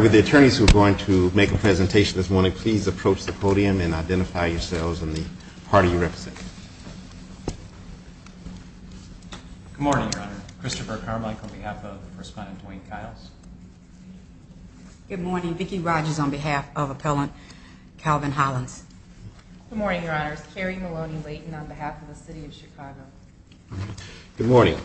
With the attorneys who are going to make a presentation this morning, please approach the podium and identify yourselves and the party you represent. Good morning, Your Honor. Christopher Carmichael on behalf of the First Plaintiff, Duane Kiles. Good morning. Vicki Rogers on behalf of Appellant Calvin Hollins. Good morning, Your Honors. Carrie Maloney Layton on behalf of the City of Chicago. Good morning.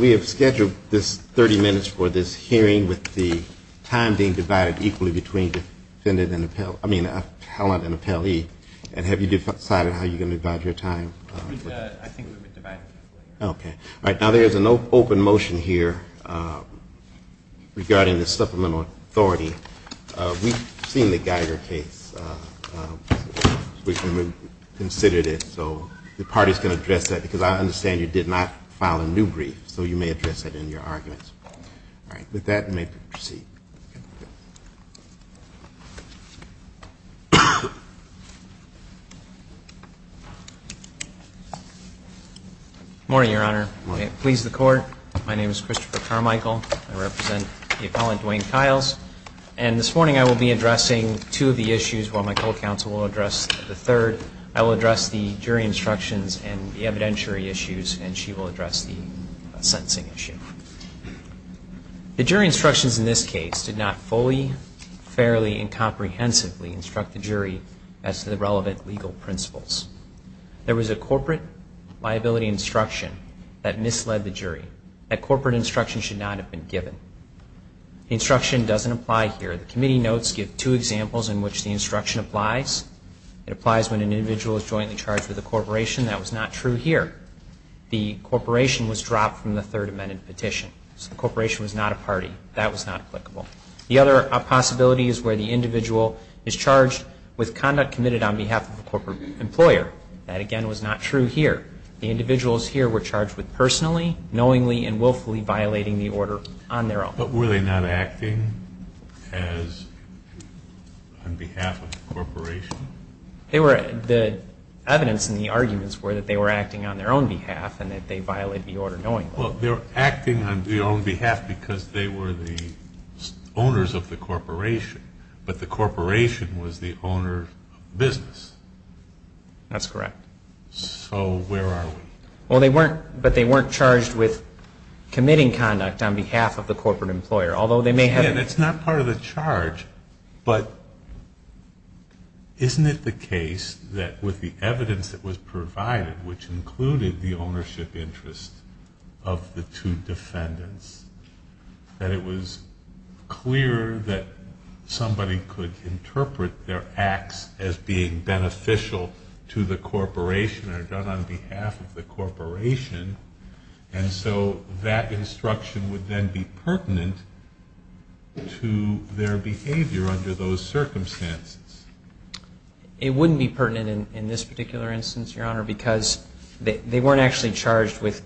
We have scheduled this 30 minutes for this hearing with the time being divided equally between defendant and appellate, I mean, appellant and appellee. And have you decided how you're going to divide your time? I think we've been divided. Okay. All right. Now there is an open motion here regarding the supplemental authority. We've seen the Geiger case. We've considered it. So the party is going to address that because I understand you did not file a new brief. So you may address it in your arguments. All right. With that, we may proceed. Good morning, Your Honor. Good morning. I please the Court. My name is Christopher Carmichael. I represent the appellant, Duane Kiles. And this morning I will be addressing two of the issues while my co-counsel will address the third. I will address the jury instructions and the evidentiary issues, and she will address the sentencing issue. The jury instructions in this case did not fully, fairly, and comprehensively instruct the jury as to the relevant legal principles. There was a corporate liability instruction that misled the jury. That corporate instruction should not have been given. The instruction doesn't apply here. The committee notes give two examples in which the instruction applies. It applies when an individual is jointly charged with a corporation. That was not true here. The corporation was dropped from the Third Amendment petition. So the corporation was not a party. That was not applicable. The other possibility is where the individual is charged with conduct committed on behalf of a corporate employer. That, again, was not true here. The individuals here were charged with personally, knowingly, and willfully violating the order on their own. But were they not acting on behalf of the corporation? The evidence in the arguments were that they were acting on their own behalf and that they violated the order knowingly. Well, they were acting on their own behalf because they were the owners of the corporation, but the corporation was the owner of business. That's correct. So where are we? Well, they weren't charged with committing conduct on behalf of the corporate employer, although they may have been. Again, it's not part of the charge, but isn't it the case that with the evidence that was provided, which included the ownership interest of the two defendants, that it was clear that somebody could interpret their acts as being beneficial to the corporation and are done on behalf of the corporation. And so that instruction would then be pertinent to their behavior under those circumstances. It wouldn't be pertinent in this particular instance, Your Honor, because they weren't actually charged with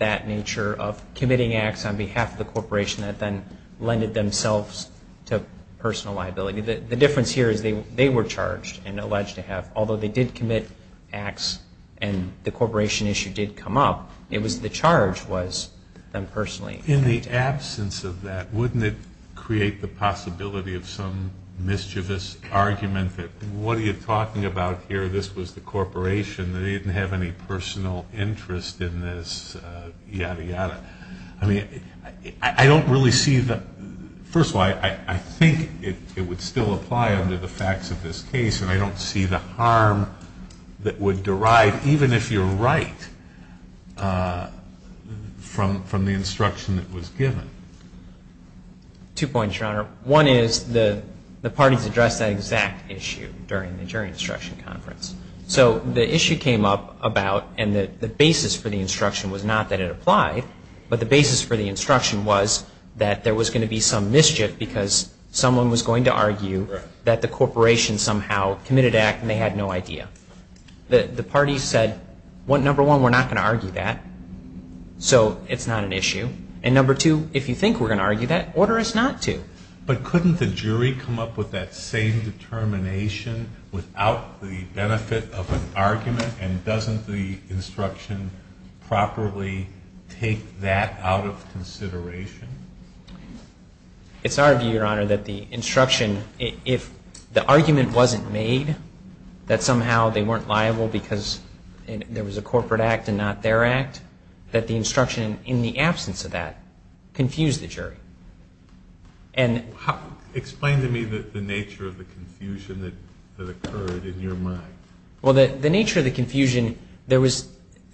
that nature of committing acts on behalf of the corporation that then lended themselves to personal liability. The difference here is they were charged and alleged to have, although they did commit acts and the corporation issue did come up, it was the charge was them personally. In the absence of that, wouldn't it create the possibility of some mischievous argument that what are you talking about here? This was the corporation. They didn't have any personal interest in this, yada, yada. First of all, I think it would still apply under the facts of this case, and I don't see the harm that would derive, even if you're right, from the instruction that was given. Two points, Your Honor. One is the parties addressed that exact issue during the jury instruction conference. So the issue came up about, and the basis for the instruction was not that it applied, but the basis for the instruction was that there was going to be some mischief because someone was going to argue that the corporation somehow committed an act and they had no idea. The parties said, number one, we're not going to argue that, so it's not an issue. And number two, if you think we're going to argue that, order us not to. But couldn't the jury come up with that same determination without the benefit of an argument, and doesn't the instruction properly take that out of consideration? It's our view, Your Honor, that the instruction, if the argument wasn't made, that somehow they weren't liable because there was a corporate act and not their act, that the instruction in the absence of that confused the jury. Explain to me the nature of the confusion that occurred in your mind. Well, the nature of the confusion, there was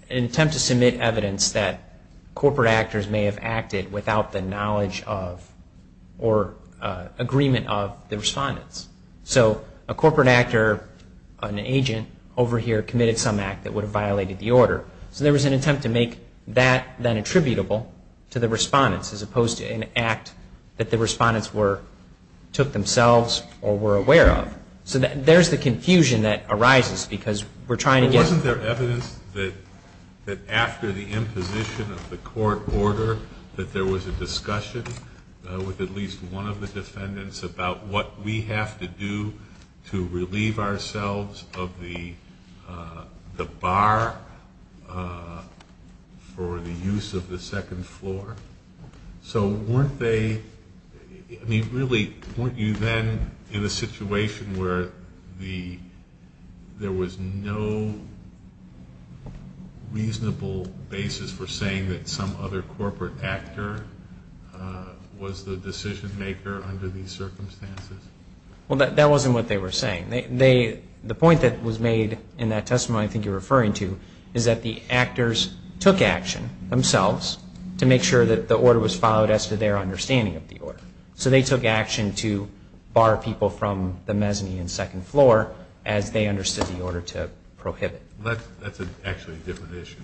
an attempt to submit evidence that corporate actors may have acted without the knowledge of or agreement of the respondents. So a corporate actor, an agent over here, committed some act that would have violated the order. So there was an attempt to make that then attributable to the respondents as opposed to an act that the respondents took themselves or were aware of. So there's the confusion that arises because we're trying to get. Wasn't there evidence that after the imposition of the court order, that there was a discussion with at least one of the defendants about what we have to do to relieve ourselves of the bar for the use of the second floor? So weren't they, I mean, really, weren't you then in a situation where there was no reasonable basis for saying that some other corporate actor was the decision maker under these circumstances? Well, that wasn't what they were saying. The point that was made in that testimony I think you're referring to is that the actors took action themselves to make sure that the order was followed as to their understanding of the order. So they took action to bar people from the mezzanine and second floor as they understood the order to prohibit. That's actually a different issue.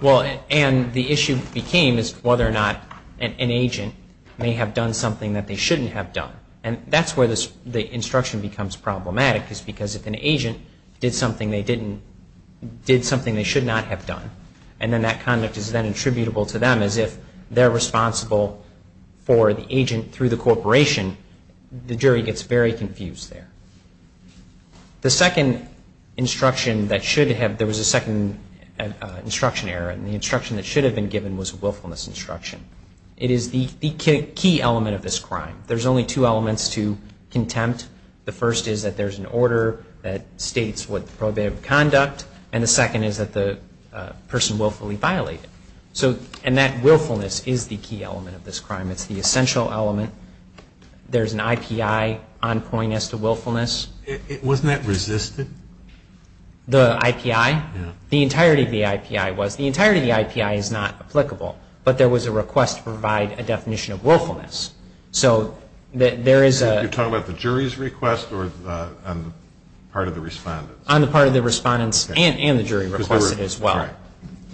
Well, and the issue became is whether or not an agent may have done something that they shouldn't have done. And that's where the instruction becomes problematic is because if an agent did something they should not have done and then that conduct is then attributable to them as if they're responsible for the agent through the corporation, the jury gets very confused there. The second instruction that should have, there was a second instruction error, and the instruction that should have been given was a willfulness instruction. It is the key element of this crime. There's only two elements to contempt. The first is that there's an order that states what the prohibitive conduct and the second is that the person willfully violated. And that willfulness is the key element of this crime. It's the essential element. There's an IPI on point as to willfulness. Wasn't that resisted? The IPI? Yeah. The entirety of the IPI was. The entirety of the IPI is not applicable, but there was a request to provide a definition of willfulness. You're talking about the jury's request or part of the respondent's? On the part of the respondent's and the jury requested as well.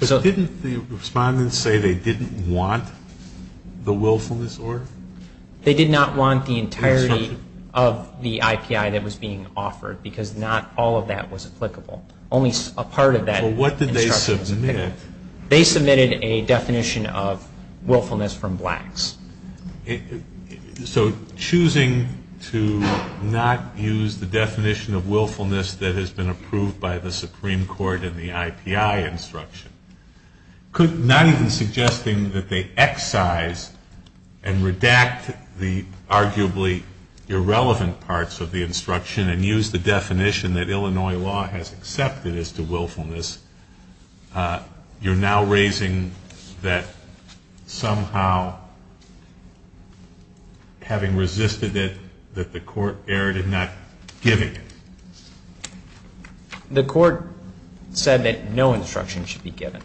Didn't the respondent say they didn't want the willfulness order? They did not want the entirety of the IPI that was being offered because not all of that was applicable. Only a part of that instruction was applicable. What did they submit? They submitted a definition of willfulness from blacks. So choosing to not use the definition of willfulness that has been approved by the Supreme Court in the IPI instruction, not even suggesting that they excise and redact the arguably irrelevant parts of the instruction and use the definition that Illinois law has accepted as to willfulness, you're now raising that somehow having resisted it, that the court erred in not giving it. The court said that no instruction should be given.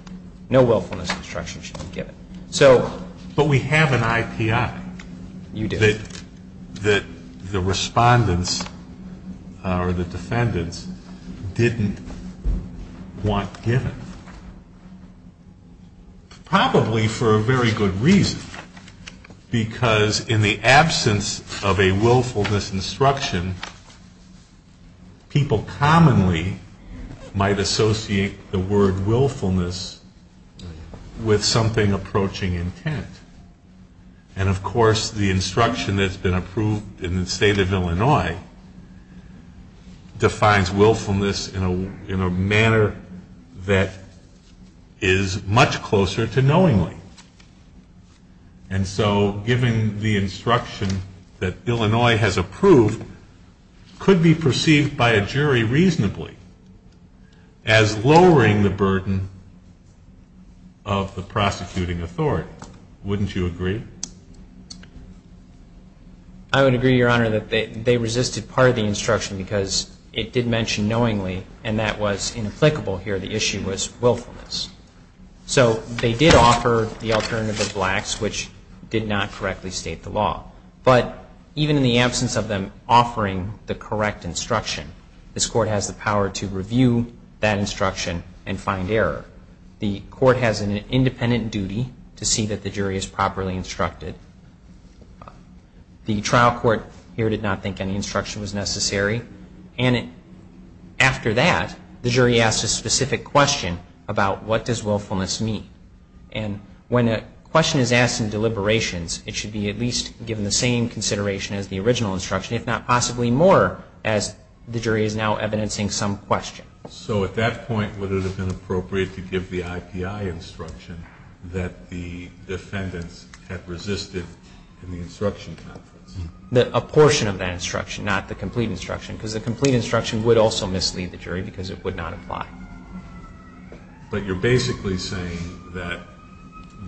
No willfulness instruction should be given. But we have an IPI. You do. That the respondents or the defendants didn't want given. Probably for a very good reason because in the absence of a willfulness instruction, people commonly might associate the word willfulness with something approaching intent. And, of course, the instruction that's been approved in the state of Illinois defines willfulness in a manner that is much closer to knowingly. And so giving the instruction that Illinois has approved could be perceived by a jury reasonably as lowering the burden of the prosecuting authority. Wouldn't you agree? I would agree, Your Honor, that they resisted part of the instruction because it did mention knowingly, and that was inapplicable here. The issue was willfulness. So they did offer the alternative of lax, which did not correctly state the law. But even in the absence of them offering the correct instruction, this court has the power to review that instruction and find error. The court has an independent duty to see that the jury is properly instructed. The trial court here did not think any instruction was necessary. And after that, the jury asked a specific question about what does willfulness mean. And when a question is asked in deliberations, it should be at least given the same consideration as the original instruction, if not possibly more, as the jury is now evidencing some question. So at that point, would it have been appropriate to give the IPI instruction that the defendants had resisted in the instruction conference? A portion of that instruction, not the complete instruction, because the complete instruction would also mislead the jury because it would not apply. But you're basically saying that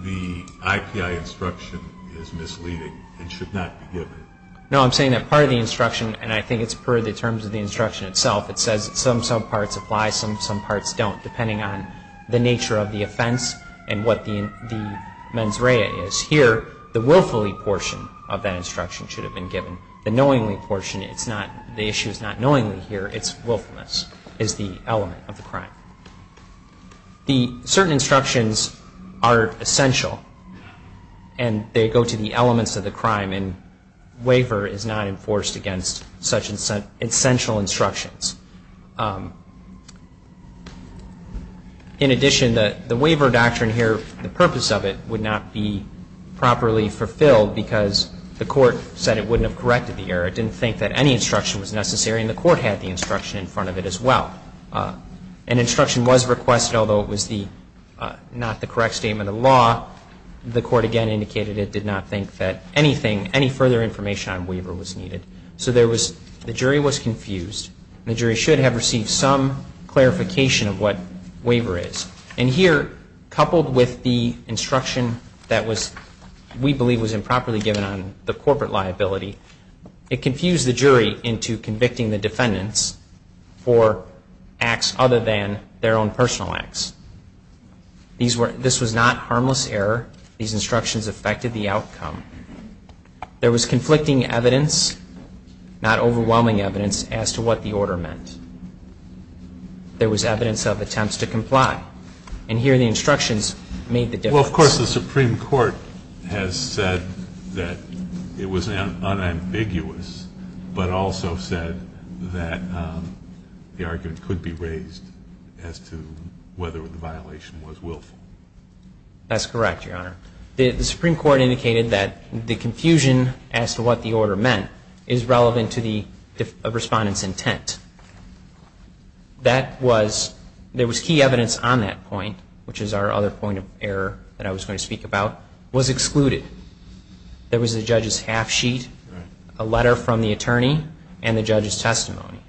the IPI instruction is misleading and should not be given. No, I'm saying that part of the instruction, and I think it's per the terms of the instruction itself, it says some subparts apply, some parts don't, depending on the nature of the offense and what the mens rea is. Here, the willfully portion of that instruction should have been given. The knowingly portion, the issue is not knowingly here, it's willfulness is the element of the crime. Certain instructions are essential, and they go to the elements of the crime, and waiver is not enforced against such essential instructions. In addition, the waiver doctrine here, the purpose of it would not be properly fulfilled because the court said it wouldn't have corrected the error. It didn't think that any instruction was necessary, and the court had the instruction in front of it as well. An instruction was requested, although it was not the correct statement of the law, the court again indicated it did not think that anything, any further information on waiver was needed. So the jury was confused, and the jury should have received some clarification of what waiver is. And here, coupled with the instruction that we believe was improperly given on the corporate liability, it confused the jury into convicting the defendants for acts other than their own personal acts. This was not harmless error. These instructions affected the outcome. There was conflicting evidence, not overwhelming evidence, as to what the order meant. There was evidence of attempts to comply, and here the instructions made the difference. Well, of course, the Supreme Court has said that it was unambiguous, but also said that the argument could be raised as to whether the violation was willful. That's correct, Your Honor. The Supreme Court indicated that the confusion as to what the order meant is relevant to the respondent's intent. There was key evidence on that point, which is our other point of error that I was going to speak about, was excluded. There was the judge's half-sheet, a letter from the attorney, and the judge's testimony.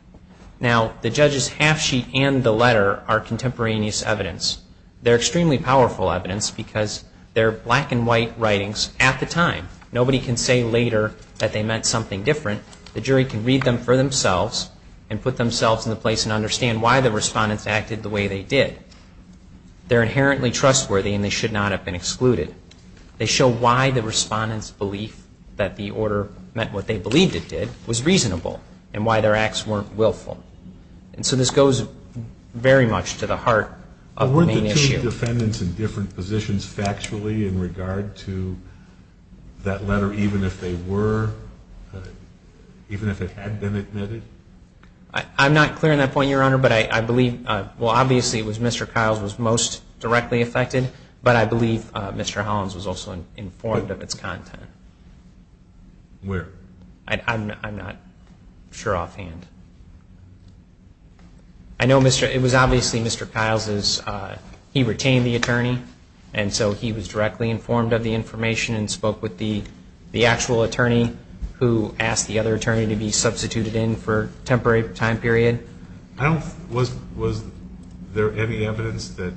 Now, the judge's half-sheet and the letter are contemporaneous evidence. They're extremely powerful evidence because they're black-and-white writings at the time. Nobody can say later that they meant something different. The jury can read them for themselves and put themselves in the place and understand why the respondents acted the way they did. They're inherently trustworthy, and they should not have been excluded. They show why the respondents' belief that the order meant what they believed it did was reasonable and why their acts weren't willful. And so this goes very much to the heart of the main issue. Weren't the two defendants in different positions factually in regard to that letter, even if they were, even if it had been admitted? I'm not clear on that point, Your Honor, but I believe, well, obviously it was Mr. Kiles was most directly affected, but I believe Mr. Hollins was also informed of its content. Where? I'm not sure offhand. I know it was obviously Mr. Kiles, he retained the attorney, and so he was directly informed of the information and spoke with the actual attorney who asked the other attorney to be substituted in for a temporary time period. Was there any evidence that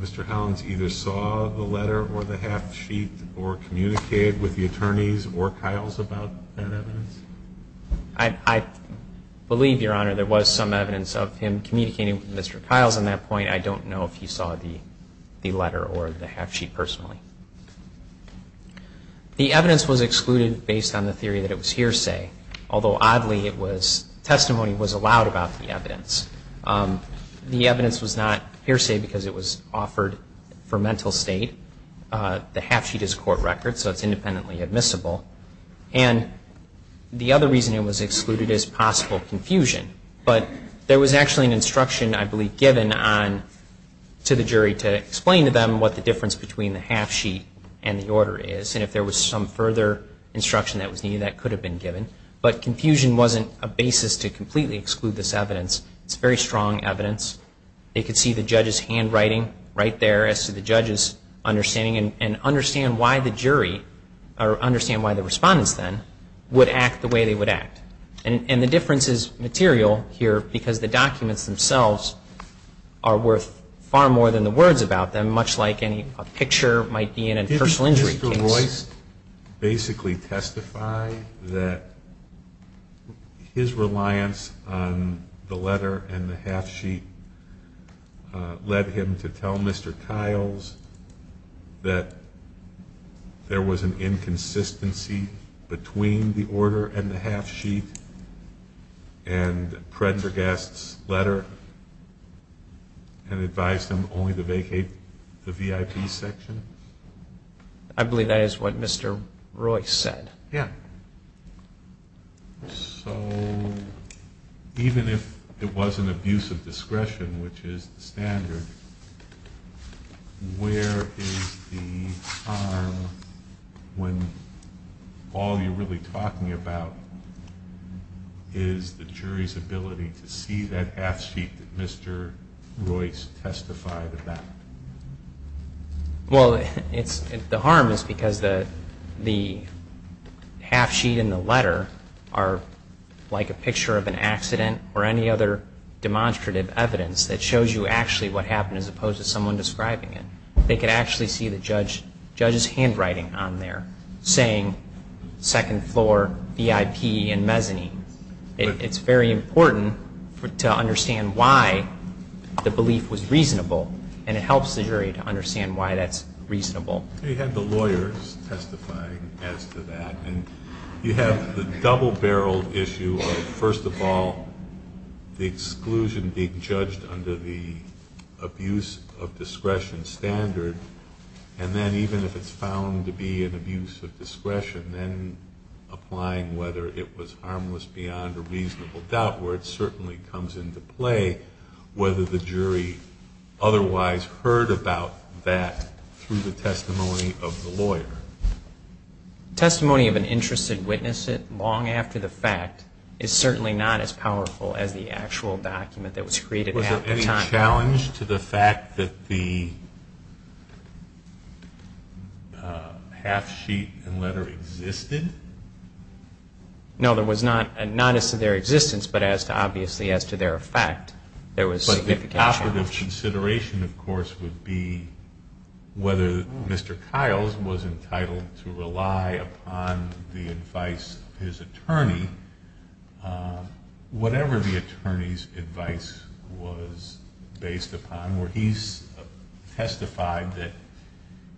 Mr. Hollins either saw the letter or the half sheet or communicated with the attorneys or Kiles about that evidence? I believe, Your Honor, there was some evidence of him communicating with Mr. Kiles on that point. I don't know if he saw the letter or the half sheet personally. The evidence was excluded based on the theory that it was hearsay, although, oddly, testimony was allowed about the evidence. The evidence was not hearsay because it was offered for mental state. The half sheet is a court record, so it's independently admissible. And the other reason it was excluded is possible confusion, but there was actually an instruction, I believe, given to the jury to explain to them what the difference between the half sheet and the order is, and if there was some further instruction that was needed, that could have been given, but confusion wasn't a basis to completely exclude this evidence. It's very strong evidence. They could see the judge's handwriting right there as to the judge's understanding and understand why the jury or understand why the respondents then would act the way they would act. And the difference is material here because the documents themselves are worth far more than the words about them, much like a picture might be in a personal injury case. Did Royce basically testify that his reliance on the letter and the half sheet led him to tell Mr. Kiles that there was an inconsistency between the order and the half sheet and Predragast's letter and advised him only to vacate the VIP section? I believe that is what Mr. Royce said. Yeah. So even if it was an abuse of discretion, which is the standard, where is the harm when all you're really talking about is the jury's ability to see that half sheet that Mr. Royce testified about? Well, the harm is because the half sheet and the letter are like a picture of an accident or any other demonstrative evidence that shows you actually what happened as opposed to someone describing it. They could actually see the judge's handwriting on there saying second floor VIP and mezzanine. It's very important to understand why the belief was reasonable and it helps the jury to understand why that's reasonable. You have the lawyers testifying as to that and you have the double-barreled issue of, first of all, the exclusion being judged under the abuse of discretion standard and then even if it's found to be an abuse of discretion, then applying whether it was harmless beyond a reasonable doubt where it certainly comes into play whether the jury otherwise heard about that through the testimony of the lawyer. Testimony of an interested witness long after the fact is certainly not as powerful as the actual document that was created at the time. Was there any challenge to the fact that the half sheet and letter existed? No, there was not. Not as to their existence, but obviously as to their effect, there was significant challenge. But the operative consideration, of course, would be whether Mr. Kiles was entitled to rely upon the advice of his attorney, whatever the attorney's advice was based upon, where he testified that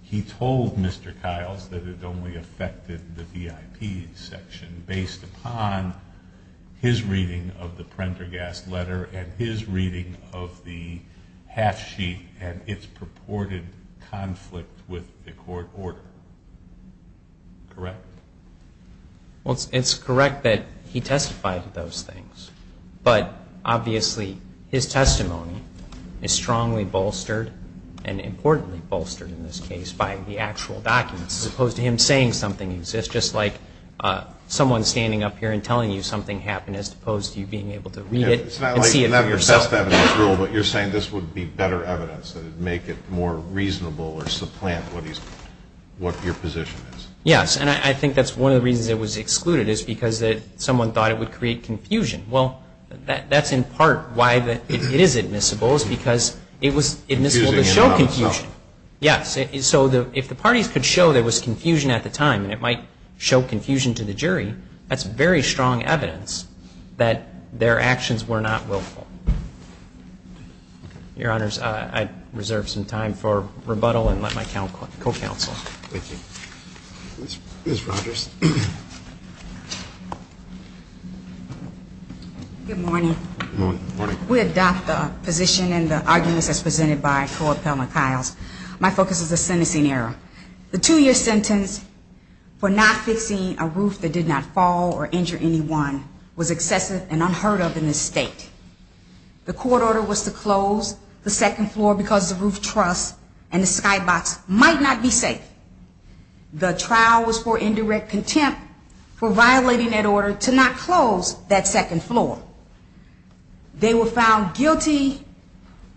he told Mr. Kiles that it only affected the VIP section based upon his reading of the Prendergast letter and his reading of the half sheet and its purported conflict with the court order. Correct? It's correct that he testified to those things, but obviously his testimony is strongly bolstered and importantly bolstered in this case by the actual documents as opposed to him saying something exists, just like someone standing up here and telling you something happened as opposed to you being able to read it and see it for yourself. It's not your best evidence rule, but you're saying this would be better evidence that would make it more reasonable or supplant what your position is. Yes, and I think that's one of the reasons it was excluded is because someone thought it would create confusion. Well, that's in part why it is admissible, is because it was admissible to show confusion. Yes, so if the parties could show there was confusion at the time and it might show confusion to the jury, that's very strong evidence that their actions were not willful. Your Honors, I reserve some time for rebuttal and let my co-counsel. Thank you. Ms. Rogers. Good morning. Good morning. We adopt the position and the arguments as presented by Court Appellant Kiles. My focus is the sentencing error. The two-year sentence for not fixing a roof that did not fall or injure anyone was excessive and unheard of in this state. The court order was to close the second floor because the roof truss and the skybox might not be safe. The trial was for indirect contempt for violating that order to not close that second floor. They were found guilty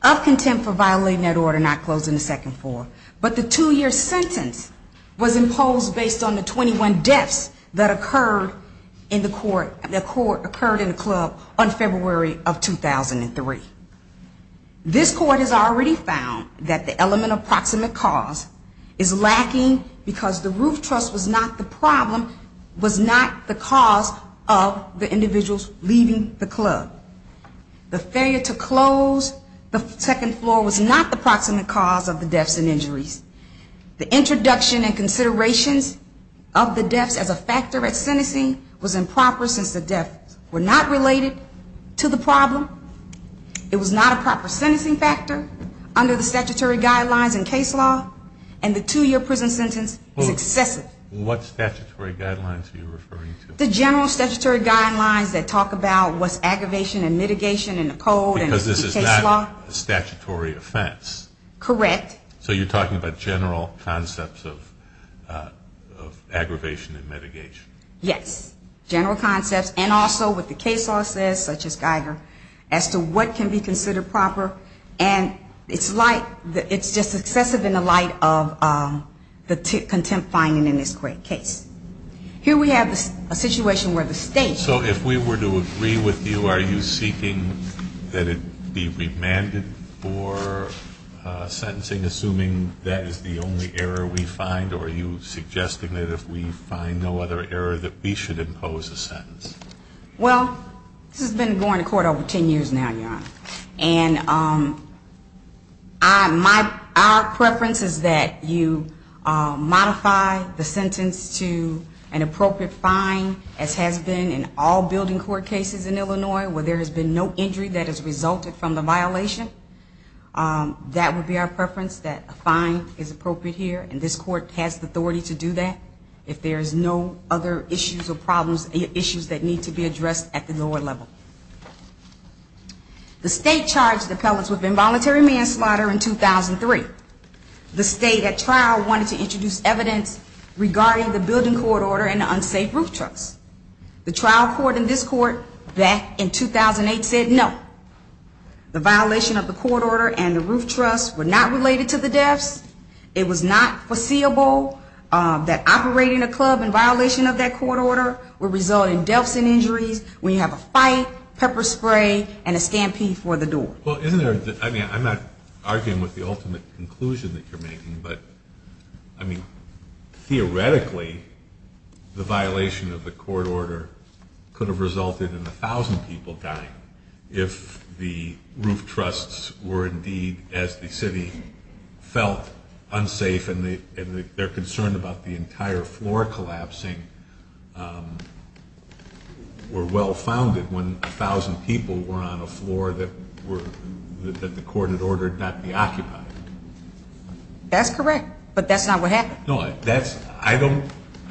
of contempt for violating that order not closing the second floor. But the two-year sentence was imposed based on the 21 deaths that occurred in the court, that occurred in the club on February of 2003. This court has already found that the element of proximate cause is lacking because the roof truss was not the problem, was not the cause of the individuals leaving the club. The failure to close the second floor was not the proximate cause of the deaths and injuries. The introduction and considerations of the deaths as a factor at sentencing was improper since the deaths were not related to the problem. It was not a proper sentencing factor under the statutory guidelines and case law. And the two-year prison sentence is excessive. What statutory guidelines are you referring to? The general statutory guidelines that talk about what's aggravation and mitigation in the code and the case law. Because this is not a statutory offense. Correct. So you're talking about general concepts of aggravation and mitigation. Yes, general concepts. And also what the case law says, such as Geiger, as to what can be considered proper. And it's just excessive in the light of the contempt finding in this great case. Here we have a situation where the state. So if we were to agree with you, are you seeking that it be remanded for sentencing, assuming that is the only error we find? Or are you suggesting that if we find no other error, that we should impose a sentence? Well, this has been going to court over ten years now, Your Honor. And our preference is that you modify the sentence to an appropriate fine, as has been in all building court cases in Illinois, where there has been no injury that has resulted from the violation. That would be our preference, that a fine is appropriate here, and this court has the authority to do that, if there is no other issues or problems, issues that need to be addressed at the lower level. The state charged the appellants with involuntary manslaughter in 2003. The state at trial wanted to introduce evidence regarding the building court order and the unsafe roof truss. The trial court in this court back in 2008 said no. The violation of the court order and the roof truss were not related to the deaths. It was not foreseeable that operating a club in violation of that court order would result in deaths and injuries when you have a fight, pepper spray, and a scampi for the door. Well, I'm not arguing with the ultimate conclusion that you're making, but, I mean, theoretically, the violation of the court order could have resulted in a thousand people dying if the roof trusses were indeed, as the city felt, unsafe and their concern about the entire floor collapsing were well founded when a thousand people were on a floor that the court had ordered not be occupied. That's correct, but that's not what happened. No, I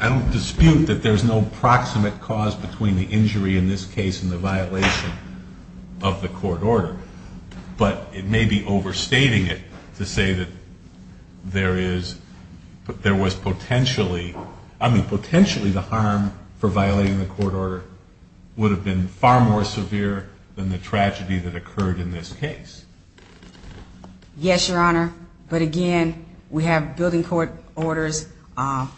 don't dispute that there's no proximate cause between the injury in this case and the violation of the court order, but it may be overstating it to say that there was potentially, I mean, potentially the harm for violating the court order would have been far more severe than the tragedy that occurred in this case. Yes, Your Honor, but, again, we have building court orders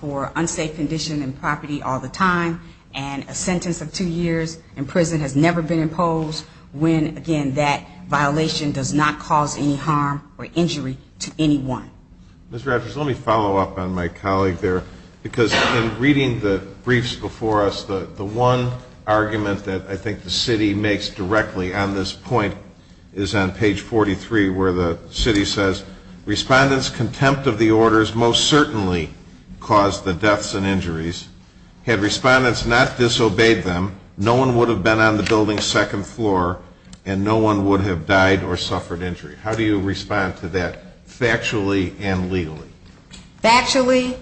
for unsafe condition and property all the time, and a sentence of two years in prison has never been imposed when, again, that violation does not cause any harm or injury to anyone. Ms. Rogers, let me follow up on my colleague there, because in reading the briefs before us, the one argument that I think the city makes directly on this point is on page 43 where the city says, Respondents' contempt of the orders most certainly caused the deaths and injuries. Had respondents not disobeyed them, no one would have been on the building's second floor and no one would have died or suffered injury. How do you respond to that factually and legally? Factually,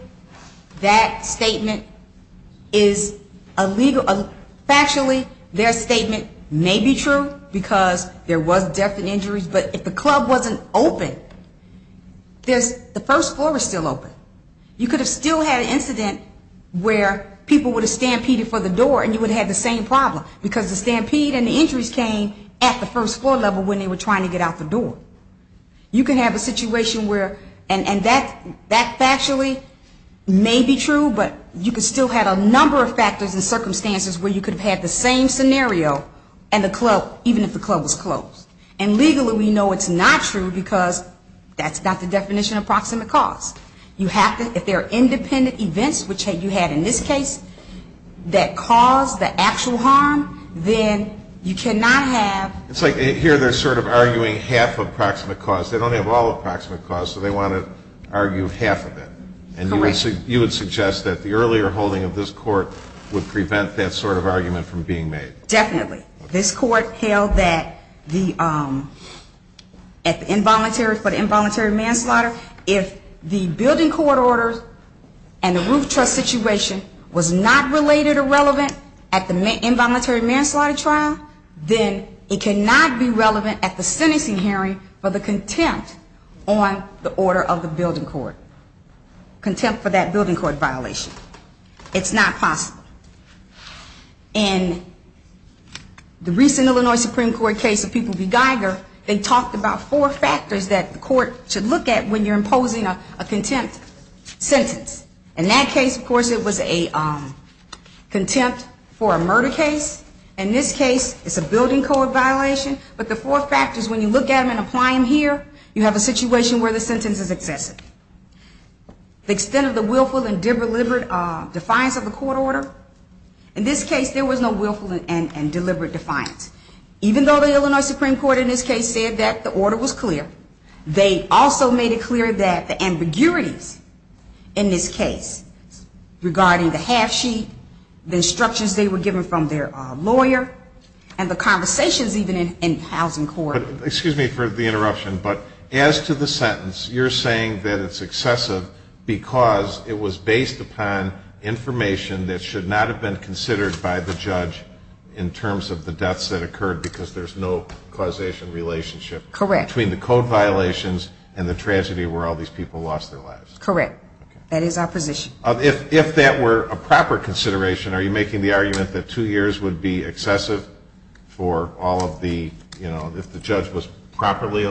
that statement is illegal. Factually, their statement may be true because there was death and injuries, but if the club wasn't open, the first floor was still open. You could have still had an incident where people would have stampeded for the door and you would have had the same problem, because the stampede and the injuries came at the first floor level when they were trying to get out the door. You could have a situation where, and that factually may be true, but you could still have a number of factors and circumstances where you could have had the same scenario and the club, even if the club was closed. And legally we know it's not true because that's not the definition of proximate cause. If there are independent events, which you had in this case, that caused the actual harm, then you cannot have... It's like here they're sort of arguing half of proximate cause. They don't have all of proximate cause, so they want to argue half of it. Correct. And you would suggest that the earlier holding of this court would prevent that sort of argument from being made. Definitely. This court held that the involuntary manslaughter, if the building court order and the roof truss situation was not related or relevant at the involuntary manslaughter trial, then it cannot be relevant at the sentencing hearing for the contempt on the order of the building court, contempt for that building court violation. It's not possible. In the recent Illinois Supreme Court case of People v. Geiger, they talked about four factors that the court should look at when you're imposing a contempt sentence. In that case, of course, it was a contempt for a murder case. In this case, it's a building court violation. But the four factors, when you look at them and apply them here, you have a situation where the sentence is excessive. The extent of the willful and deliberate defiance of the court order. In this case, there was no willful and deliberate defiance. Even though the Illinois Supreme Court in this case said that the order was clear, they also made it clear that the ambiguities in this case regarding the half sheet, the instructions they were given from their lawyer, and the conversations even in the housing court. Excuse me for the interruption, but as to the sentence, you're saying that it's excessive because it was based upon information that should not have been considered by the judge in terms of the deaths that occurred because there's no causation relationship. Correct. Between the code violations and the tragedy where all these people lost their lives. Correct. That is our position. If that were a proper consideration, are you making the argument that two years would be excessive for all of the, you know, if the judge was properly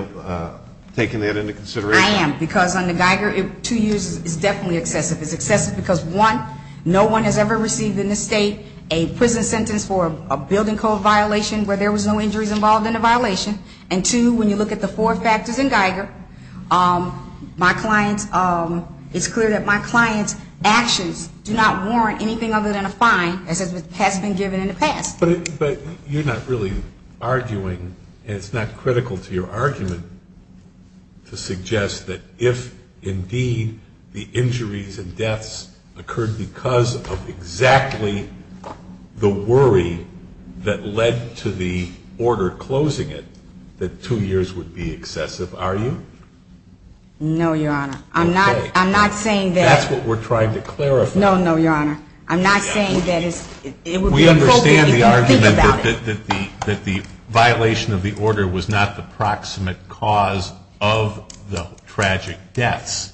taking that into consideration? I am. Because under Geiger, two years is definitely excessive. It's excessive because, one, no one has ever received in this state a prison sentence for a building code violation where there was no injuries involved in the violation. And, two, when you look at the four factors in Geiger, my client's, it's clear that my client's actions do not warrant anything other than a fine, as has been given in the past. But you're not really arguing, and it's not critical to your argument, to suggest that if indeed the injuries and deaths occurred because of exactly the worry that led to the order closing it, that two years would be excessive, are you? No, Your Honor. Okay. I'm not saying that. That's what we're trying to clarify. No, no, Your Honor. I'm not saying that it's, it would be appropriate if you think about it. We understand the argument that the violation of the order was not the proximate cause of the tragic deaths.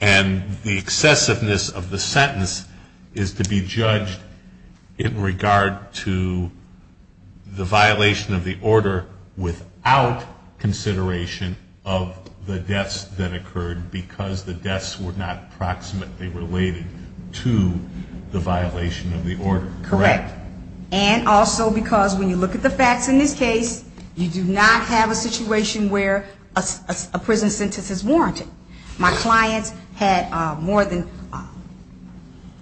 And the excessiveness of the sentence is to be judged in regard to the violation of the order without consideration of the deaths that occurred because the deaths were not proximately related to the violation of the order. Correct. And also because when you look at the facts in this case, you do not have a situation where a prison sentence is warranted. My clients had more than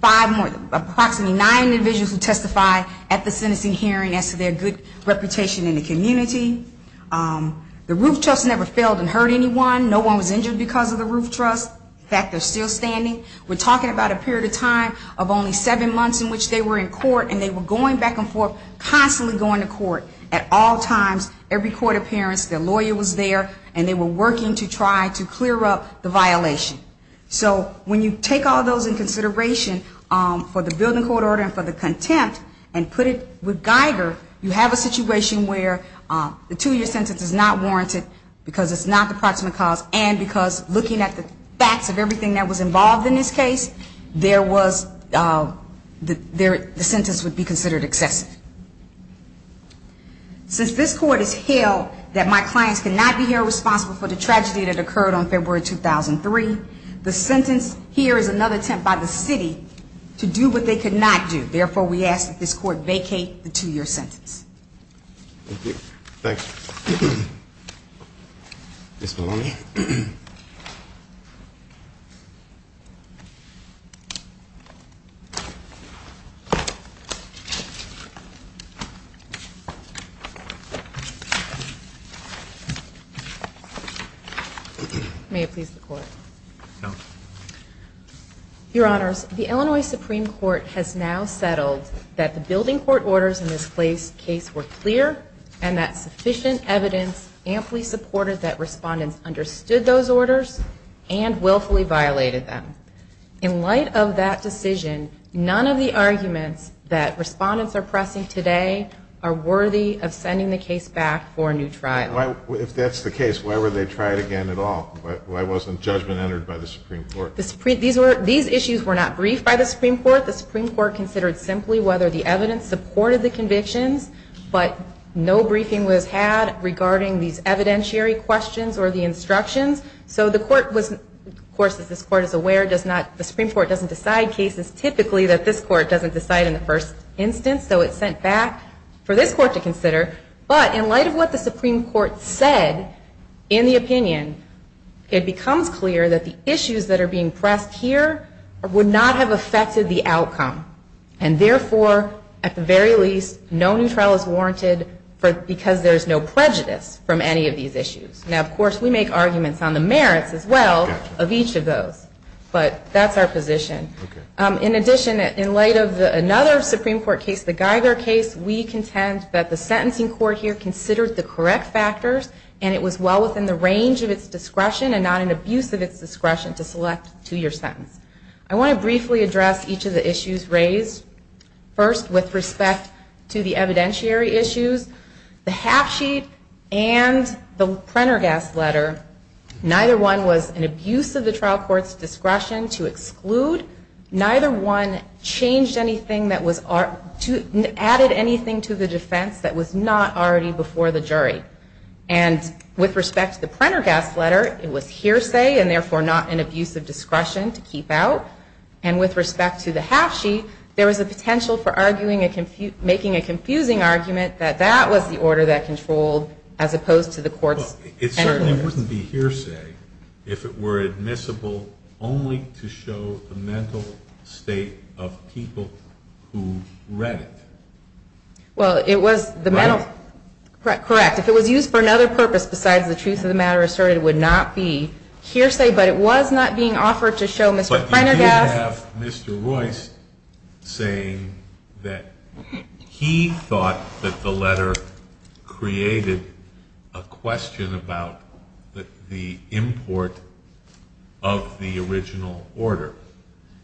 five more, approximately nine individuals who testified at the sentencing hearing as to their good reputation in the community. The Roof Trust never failed and hurt anyone. No one was injured because of the Roof Trust. In fact, they're still standing. We're talking about a period of time of only seven months in which they were in court, and they were going back and forth, constantly going to court at all times, every court appearance. Their lawyer was there, and they were working to try to clear up the violation. So when you take all those in consideration for the building court order and for the contempt and put it with Geiger, you have a situation where the two-year sentence is not warranted because it's not the proximate cause and because looking at the facts of everything that was involved in this case, there was the sentence would be considered excessive. Since this court has held that my clients cannot be held responsible for the tragedy that occurred on February 2003, the sentence here is another attempt by the city to do what they could not do. Therefore, we ask that this court vacate the two-year sentence. Thank you. Thank you. Ms. Maloney. May it please the Court. No. Your Honors, the Illinois Supreme Court has now settled that the building court orders in this case were clear and that sufficient evidence amply supported that respondents understood those orders and willfully violated them. In light of that decision, none of the arguments that respondents are pressing for the building court order today are worthy of sending the case back for a new trial. If that's the case, why were they tried again at all? Why wasn't judgment entered by the Supreme Court? These issues were not briefed by the Supreme Court. The Supreme Court considered simply whether the evidence supported the convictions, but no briefing was had regarding these evidentiary questions or the instructions. So the Court was, of course, as this Court is aware, the Supreme Court doesn't decide cases typically that this Court to consider. But in light of what the Supreme Court said in the opinion, it becomes clear that the issues that are being pressed here would not have affected the outcome. And therefore, at the very least, no new trial is warranted because there is no prejudice from any of these issues. Now, of course, we make arguments on the merits as well of each of those. But that's our position. In addition, in light of another Supreme Court case, the Geiger case, we contend that the sentencing court here considered the correct factors and it was well within the range of its discretion and not an abuse of its discretion to select a two-year sentence. I want to briefly address each of the issues raised. First, with respect to the evidentiary issues, the half sheet and the printer guest letter, neither one was an abuse of discretion. Neither one added anything to the defense that was not already before the jury. And with respect to the printer guest letter, it was hearsay and therefore not an abuse of discretion to keep out. And with respect to the half sheet, there was a potential for making a confusing argument that that was the order that controlled as opposed to the court's. It certainly wouldn't be hearsay if it were admissible only to show the mental state of people who read it. Well, it was the mental. Correct. If it was used for another purpose besides the truth of the matter asserted, it would not be hearsay. But it was not being offered to show Mr. Printergast. But you did have Mr. Royce saying that he thought that the letter created a question. There was a question about the import of the original order.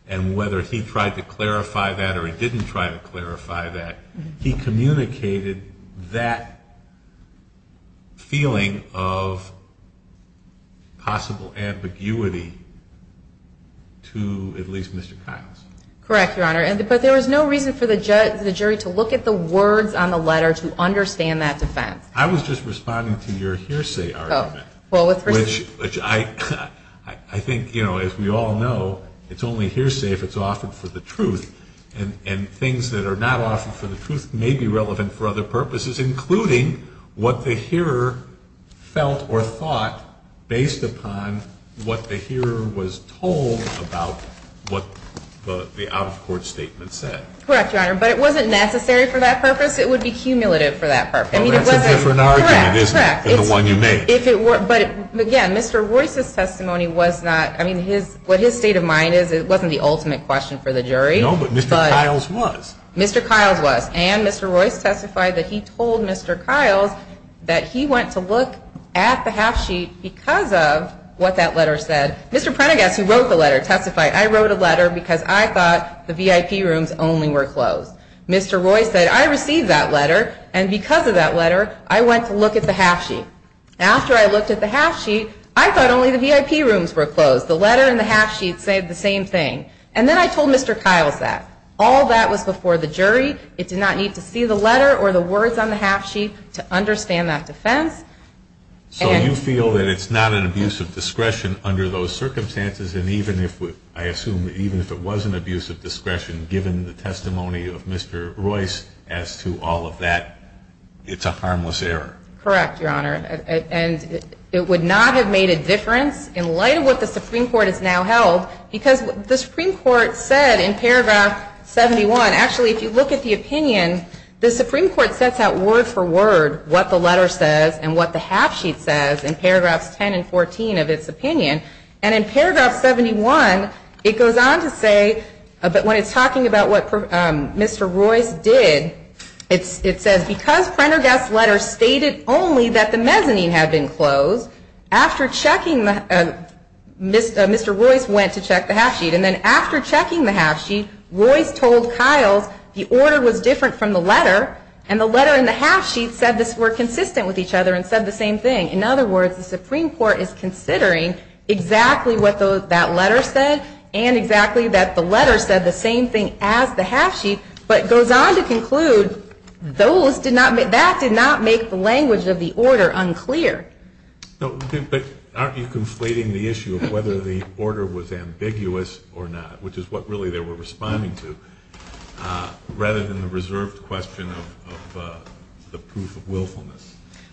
And whether he tried to clarify that or he didn't try to clarify that, he communicated that feeling of possible ambiguity to at least Mr. Kiles. Correct, Your Honor. But there was no reason for the jury to look at the words on the letter to understand that defense. I was just responding to your hearsay argument, which I think, as we all know, it's only hearsay if it's offered for the truth. And things that are not offered for the truth may be relevant for other purposes, including what the hearer felt or thought based upon what the hearer was told about what the out-of-court statement said. Correct, Your Honor. But it wasn't necessary for that purpose. It would be cumulative for that purpose. Well, that's a different argument, isn't it, than the one you made? Correct. But, again, Mr. Royce's testimony was not, I mean, what his state of mind is, it wasn't the ultimate question for the jury. No, but Mr. Kiles was. Mr. Kiles was. And Mr. Royce testified that he told Mr. Kiles that he went to look at the half sheet because of what that letter said. Mr. Printergast, who wrote the letter, testified, I wrote a letter because I thought the VIP rooms only were closed. Mr. Royce said, I received that letter, and because of that letter, I went to look at the half sheet. After I looked at the half sheet, I thought only the VIP rooms were closed. The letter and the half sheet said the same thing. And then I told Mr. Kiles that. All that was before the jury. It did not need to see the letter or the words on the half sheet to understand that defense. So you feel that it's not an abuse of discretion under those circumstances? And even if, I assume, even if it was an abuse of discretion, given the testimony of Mr. Kiles? I'm not sure that I'm in agreement with Mr. Royce as to all of that. It's a harmless error. Correct, Your Honor. And it would not have made a difference in light of what the Supreme Court has now held. Because what the Supreme Court said in paragraph 71, actually, if you look at the opinion, the Supreme Court sets out word for word what the letter says and what the half sheet says in paragraphs 10 and 14 of its opinion. And in paragraph 71, it goes on to say, when it's talking about what Mr. Royce did, it says, because Prendergast's letter stated only that the mezzanine had been closed, Mr. Royce went to check the half sheet. And then after checking the half sheet, Royce told Kiles the order was different from the letter, and the letter and the half sheet said this were consistent with each other and said the same thing. In other words, the Supreme Court is considering exactly what that letter said and exactly that the letter said the same thing as the half sheet, but goes on to conclude that did not make the language of the order unclear. But aren't you conflating the issue of whether the order was ambiguous or not, which is what really they were responding to, rather than the reserved question of the proof of willfulness?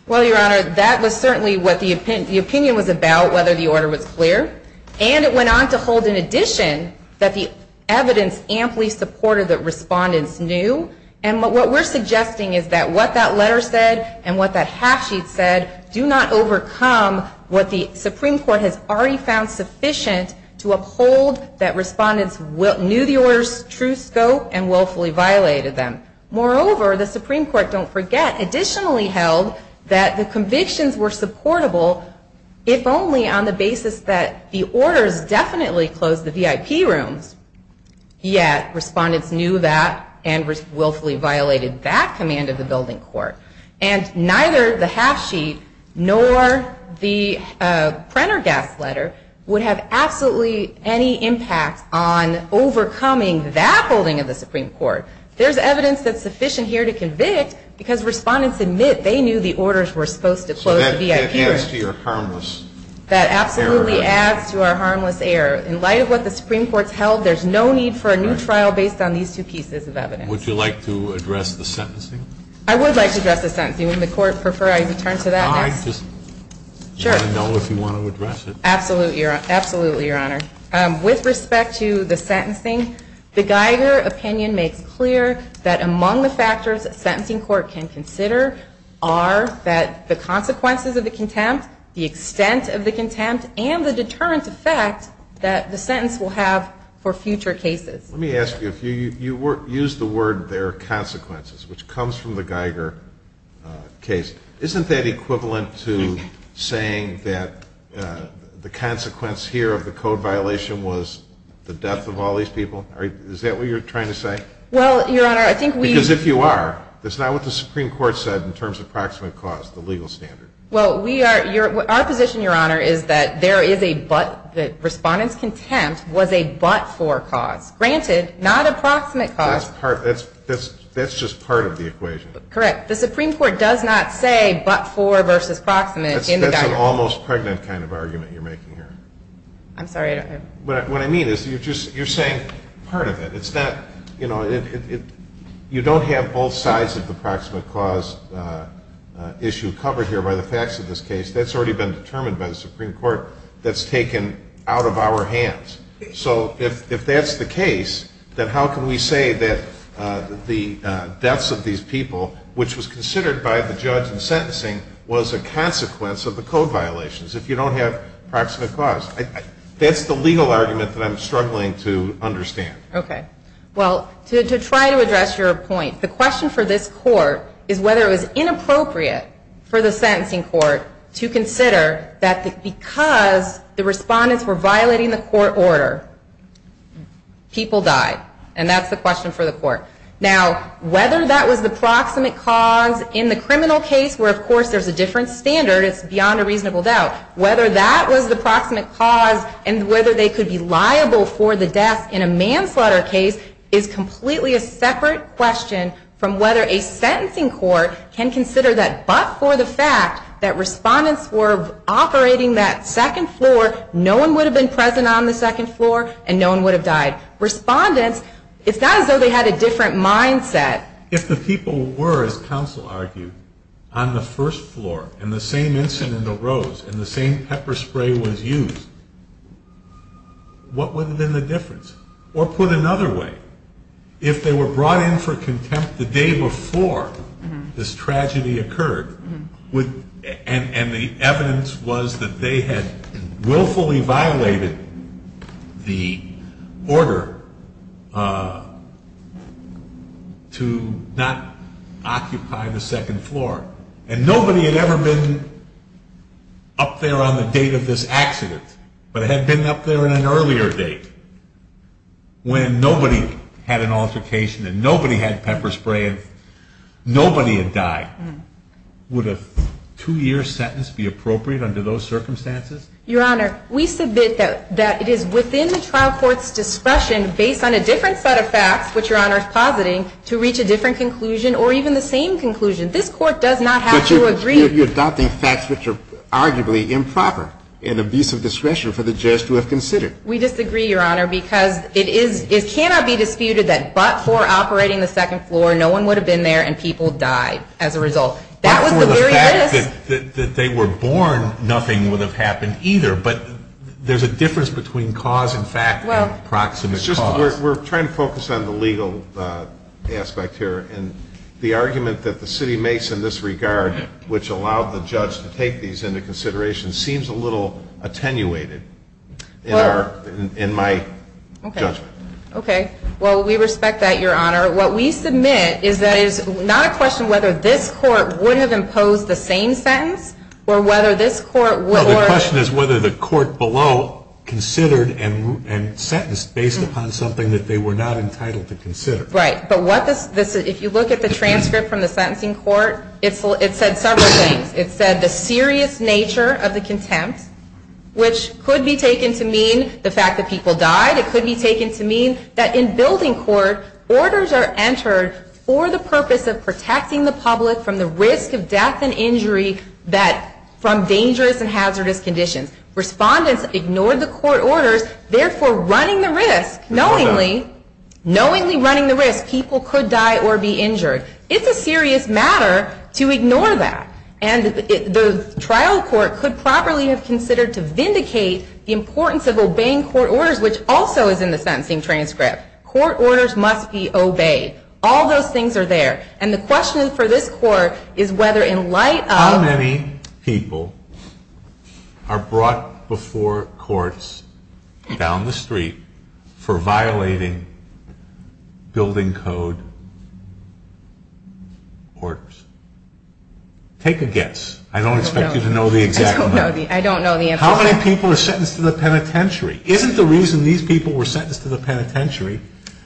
Well, Your Honor, that was certainly what the opinion was about, whether the order was clear. And it went on to hold in addition that the evidence amply supported that respondents knew. And what we're suggesting is that what that letter said and what that half sheet said do not overcome what the Supreme Court has already found sufficient to uphold that respondents knew the order's true scope and willfully violated them. Moreover, the Supreme Court, don't forget, additionally held that the convictions were supportable if only on the basis that the orders definitely closed the VIP rooms, yet respondents knew that and willfully violated that command of the building court. And neither the half sheet nor the Prendergast letter would have absolutely any impact on overcoming that holding of the Supreme Court. There's evidence that's sufficient here to convict because respondents admit they knew the orders were supposed to close the VIP rooms. So that adds to your harmless error. That absolutely adds to our harmless error. In light of what the Supreme Court's held, there's no need for a new trial based on these two pieces of evidence. Would you like to address the sentencing? I would like to address the sentencing. Would the Court prefer I return to that next? I just want to know if you want to address it. Absolutely, Your Honor. With respect to the sentencing, the Geiger opinion makes clear that among the factors a sentencing court can consider are that the consequences of the contempt, the extent of the contempt, and the deterrent effect that the sentence will have for future cases. Let me ask you, you used the word there are consequences, which comes from the Geiger case. Isn't that equivalent to saying that the consequence here of the code violation was the death of all these people? Is that what you're trying to say? Well, Your Honor, I think we Because if you are, that's not what the Supreme Court said in terms of proximate cause, the legal standard. Well, our position, Your Honor, is that there is a but, that respondents' contempt was a but for cause. Granted, not approximate cause. That's just part of the equation. Correct. The Supreme Court does not say but for versus proximate in the Geiger case. That's an almost pregnant kind of argument you're making here. I'm sorry, I don't know. What I mean is you're just, you're saying part of it. It's not, you know, you don't have both sides of the proximate cause issue covered here by the facts of this case. That's already been determined by the Supreme Court. That's taken out of our hands. So if that's the case, then how can we say that the deaths of these people, which would have been a part of the Geiger case, would have been a part of the Geiger case? Which was considered by the judge in sentencing was a consequence of the code violations. If you don't have proximate cause. That's the legal argument that I'm struggling to understand. Okay. Well, to try to address your point, the question for this court is whether it was inappropriate for the sentencing court to consider that because the respondents were violating the court order, people died. And that's the question for the court. Now, whether that was the proximate cause in the criminal case, where of course there's a different standard, it's beyond a reasonable doubt. Whether that was the proximate cause and whether they could be liable for the deaths in a manslaughter case is completely a separate question from whether a sentencing court can consider that. But for the fact that respondents were operating that second floor, no one would have been present on the second floor and no one would have died. Respondents, it's not as though they had a different mindset. If the people were, as counsel argued, on the first floor and the same incident arose and the same pepper spray was used, what would have been the difference? Or put another way, if they were brought in for contempt the day before this tragedy occurred and the evidence was that they had willfully violated the order to not occupy the second floor, and nobody had ever been up there on the date of this accident, but had been up there on an earlier date. When nobody had an altercation and nobody had pepper spray, nobody had died. Would a two-year sentence be appropriate under those circumstances? Your Honor, we submit that it is within the trial court's discretion, based on a different set of facts, which Your Honor is positing, to reach a different conclusion or even the same conclusion. This court does not have to agree. But you're adopting facts which are arguably improper and abuse of discretion for the judge to have considered. We disagree, Your Honor, because it cannot be disputed that but for operating the second floor, no one would have been there and people died as a result. But for the fact that they were born, nothing would have happened either. But there's a difference between cause and fact and approximate cause. We're trying to focus on the legal aspect here. And the argument that the city makes in this regard, which allowed the judge to take these into consideration, seems a little attenuated in my judgment. Okay. Okay. Well, we respect that, Your Honor. What we submit is that it is not a question whether this court would have imposed the same sentence or whether this court would or — Well, the question is whether the court below considered and sentenced based upon something that they were not entitled to consider. Right. But what this — if you look at the transcript from the sentencing court, it said several things. It said the serious nature of the contempt, which could be taken to mean the fact that people died. It could be taken to mean that in building court, orders are entered for the purpose of protecting the public from the risk of death and injury from dangerous and hazardous conditions. Respondents ignored the court orders, therefore running the risk, knowingly. Running the risk, people could die or be injured. It's a serious matter to ignore that. And the trial court could properly have considered to vindicate the importance of obeying court orders, which also is in the sentencing transcript. Court orders must be obeyed. All those things are there. And the question for this court is whether in light of —— are brought before courts down the street for violating building code orders. Take a guess. I don't expect you to know the exact number. I don't know the answer. How many people are sentenced to the penitentiary? Isn't the reason these people were sentenced to the penitentiary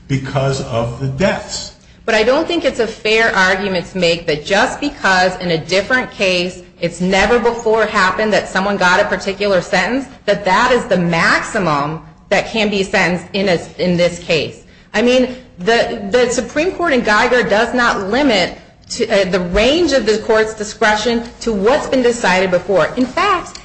because of the deaths? But I don't think it's a fair argument to make that just because in a different case it's never before happened that someone got a particular sentence, that that is the maximum that can be sentenced in this case. I mean, the Supreme Court in Geiger does not limit the range of the court's discretion to what's been decided before. In fact,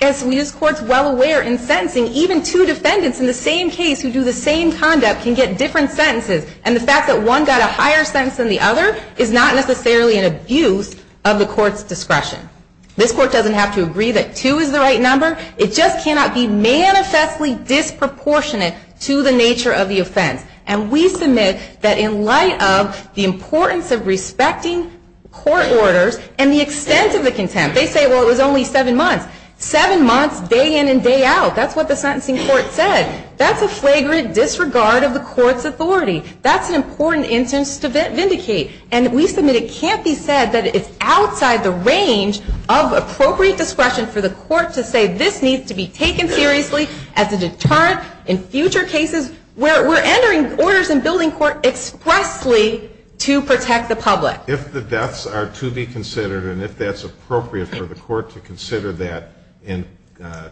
as we as courts well aware in sentencing, even two defendants in the same case who do the same conduct can get different sentences. And the fact that one got a higher sentence than the other is not necessarily an abuse of the court's discretion. This court doesn't have to agree that two is the right number. It just cannot be manifestly disproportionate to the nature of the offense. And we submit that in light of the importance of respecting court orders and the extent of the contempt —— they say, well, it was only seven months. Seven months, day in and day out. That's what the sentencing court said. That's a flagrant disregard of the court's authority. That's an important instance to vindicate. And we submit it can't be said that it's outside the range of appropriate discretion for the court to say this needs to be taken seriously as a deterrent in future cases where we're entering orders and building court expressly to protect the public. If the deaths are to be considered and if that's appropriate for the court to consider that in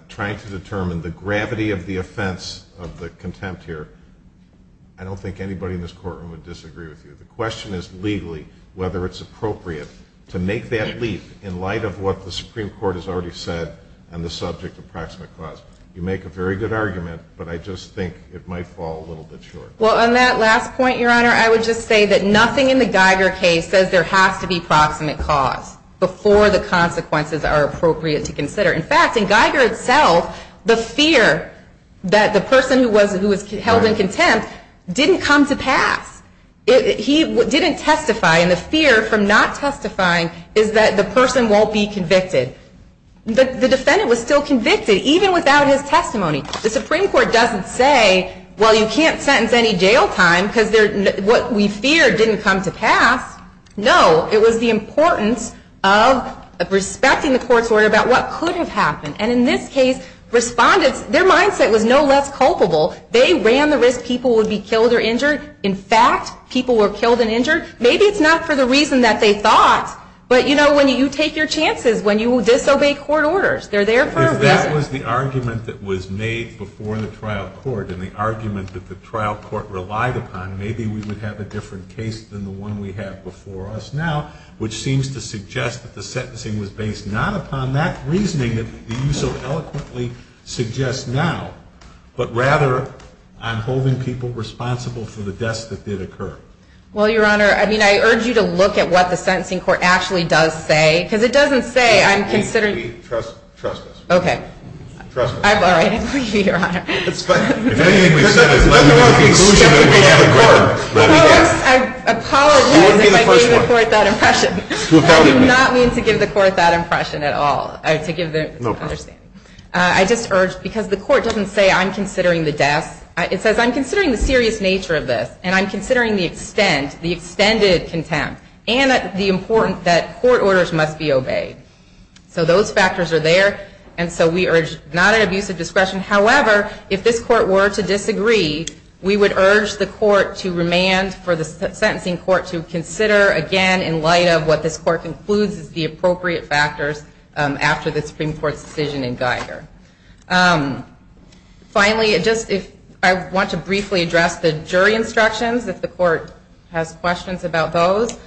trying to determine the gravity of the offense of the contempt here, I don't think anybody in this courtroom would disagree with you. The question is legally whether it's appropriate to make that leap in light of what the Supreme Court has already said on the subject of proximate cause. You make a very good argument, but I just think it might fall a little bit short. Well, on that last point, Your Honor, I would just say that nothing in the Geiger case says there has to be proximate cause before the consequences are appropriate to consider. In fact, in Geiger itself, the fear that the person who was held in contempt didn't come to pass. He didn't testify, and the fear from not testifying is that the person won't be convicted. The defendant was still convicted even without his testimony. The Supreme Court doesn't say, well, you can't sentence any jail time because what we feared didn't come to pass. No, it was the importance of respecting the court's order about what could have happened. And in this case, respondents, their mindset was no less culpable. They ran the risk people would be killed or injured. In fact, people were killed and injured. Maybe it's not for the reason that they thought, but, you know, when you take your chances, when you disobey court orders, they're there for a reason. If this was the argument that was made before the trial court and the argument that the trial court relied upon, maybe we would have a different case than the one we have before us now, which seems to suggest that the sentencing was based not upon that reasoning that you so eloquently suggest now, but rather on holding people responsible for the deaths that did occur. Well, Your Honor, I mean, I urge you to look at what the sentencing court actually does say, because it doesn't say I'm considering Maybe trust us. Okay. Trust us. I've already agreed, Your Honor. If anything we've said is in the exclusion of the court, let me ask. I apologize if I gave the court that impression. I did not mean to give the court that impression at all. No problem. I just urge, because the court doesn't say I'm considering the deaths. It says I'm considering the serious nature of this, and I'm considering the extent, the extended contempt, and the importance that court orders must be obeyed. So those factors are there, and so we urge not an abuse of discretion. However, if this court were to disagree, we would urge the court to remand for the sentencing court to consider, again, in light of what this court concludes is the appropriate factors after the Supreme Court's decision in Geiger. Finally, I want to briefly address the jury instructions, if the court has questions about those.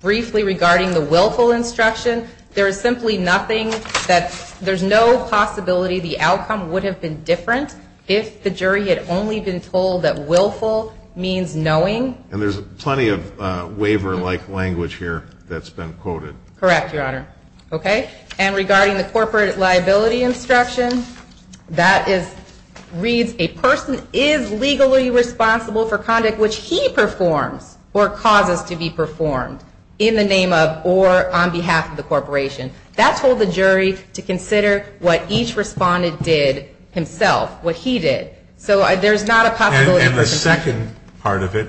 Briefly, regarding the willful instruction, there is simply nothing that, there's no possibility the outcome would have been different if the jury had only been told that willful means knowing. And there's plenty of waiver-like language here that's been quoted. Correct, Your Honor. Okay. And regarding the corporate liability instruction, that reads, a person is legally responsible for conduct which he performs or causes to be performed, in the name of or on behalf of the corporation. That told the jury to consider what each respondent did himself, what he did. So there's not a possibility. And the second part of it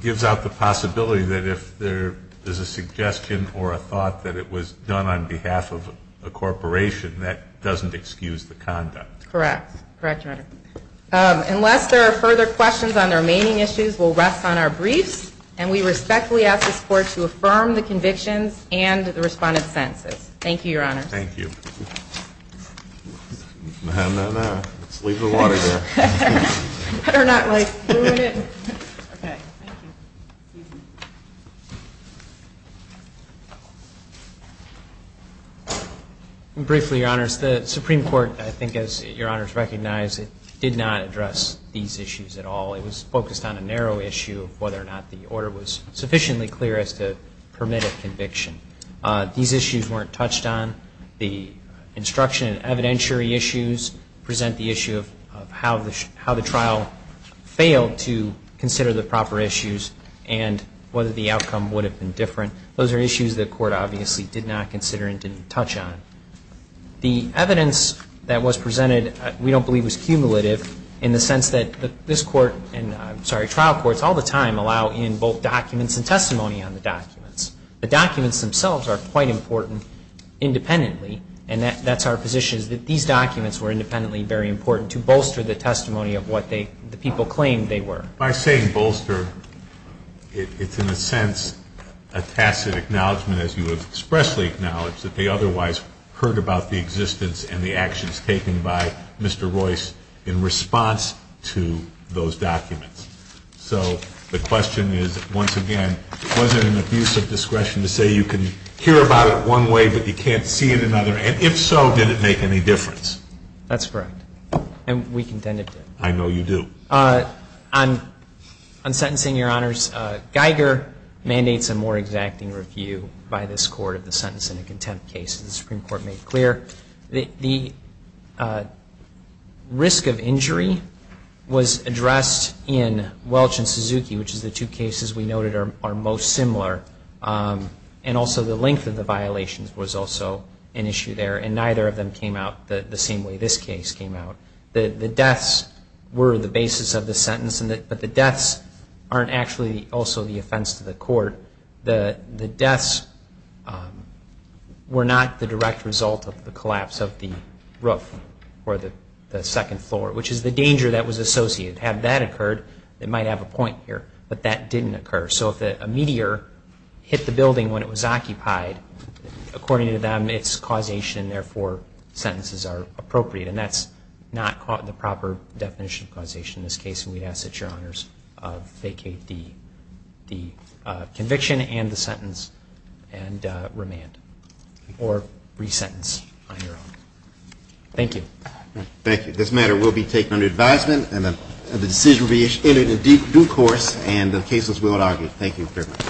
gives out the possibility that if there is a suggestion or a thought that it was done on behalf of a corporation, that doesn't excuse the conduct. Correct. Correct, Your Honor. Unless there are further questions on the remaining issues, we'll rest on our briefs, and we respectfully ask this court to affirm the convictions and the respondent's sentences. Thank you, Your Honor. Thank you. No, no, no. Let's leave the water there. Better not ruin it. Okay. Thank you. Briefly, Your Honors, the Supreme Court, I think, as Your Honors recognize, did not address these issues at all. It was focused on a narrow issue of whether or not the order was sufficiently clear as to permit a conviction. These issues weren't touched on. The instruction and evidentiary issues present the issue of how the trial failed to consider the proper issues and whether the outcome would have been different. Those are issues the court obviously did not consider and didn't touch on. The evidence that was presented we don't believe was cumulative in the sense that this court and, I'm sorry, trial courts all the time allow in both documents and testimony on the documents. The documents themselves are quite important independently, and that's our position, that these documents were independently very important to bolster the testimony of what the people claimed they were. By saying bolster, it's in a sense a tacit acknowledgment, as you have expressly acknowledged, that they otherwise heard about the existence and the actions taken by Mr. Royce in response to those documents. So the question is, once again, was it an abuse of discretion to say you can hear about it one way but you can't see it another, and if so, did it make any difference? That's correct, and we contended it did. I know you do. On sentencing, Your Honors, Geiger mandates a more exacting review by this court of the sentence and the contempt cases. The Supreme Court made clear that the risk of injury was addressed in Welch and Suzuki, which is the two cases we noted are most similar, and also the length of the violations was also an issue there, and neither of them came out the same way this case came out. The deaths were the basis of the sentence, but the deaths aren't actually also the offense to the court. The deaths were not the direct result of the collapse of the roof or the second floor, which is the danger that was associated. Had that occurred, it might have a point here, but that didn't occur. So if a meteor hit the building when it was occupied, according to them, it's causation, therefore sentences are appropriate, and that's not caught in the proper definition of causation in this case, and we'd ask that Your Honors vacate the conviction and the sentence and remand or resentence on your own. Thank you. Thank you. This matter will be taken under advisement, and the decision will be issued in due course, and the cases will not argue. Thank you very much.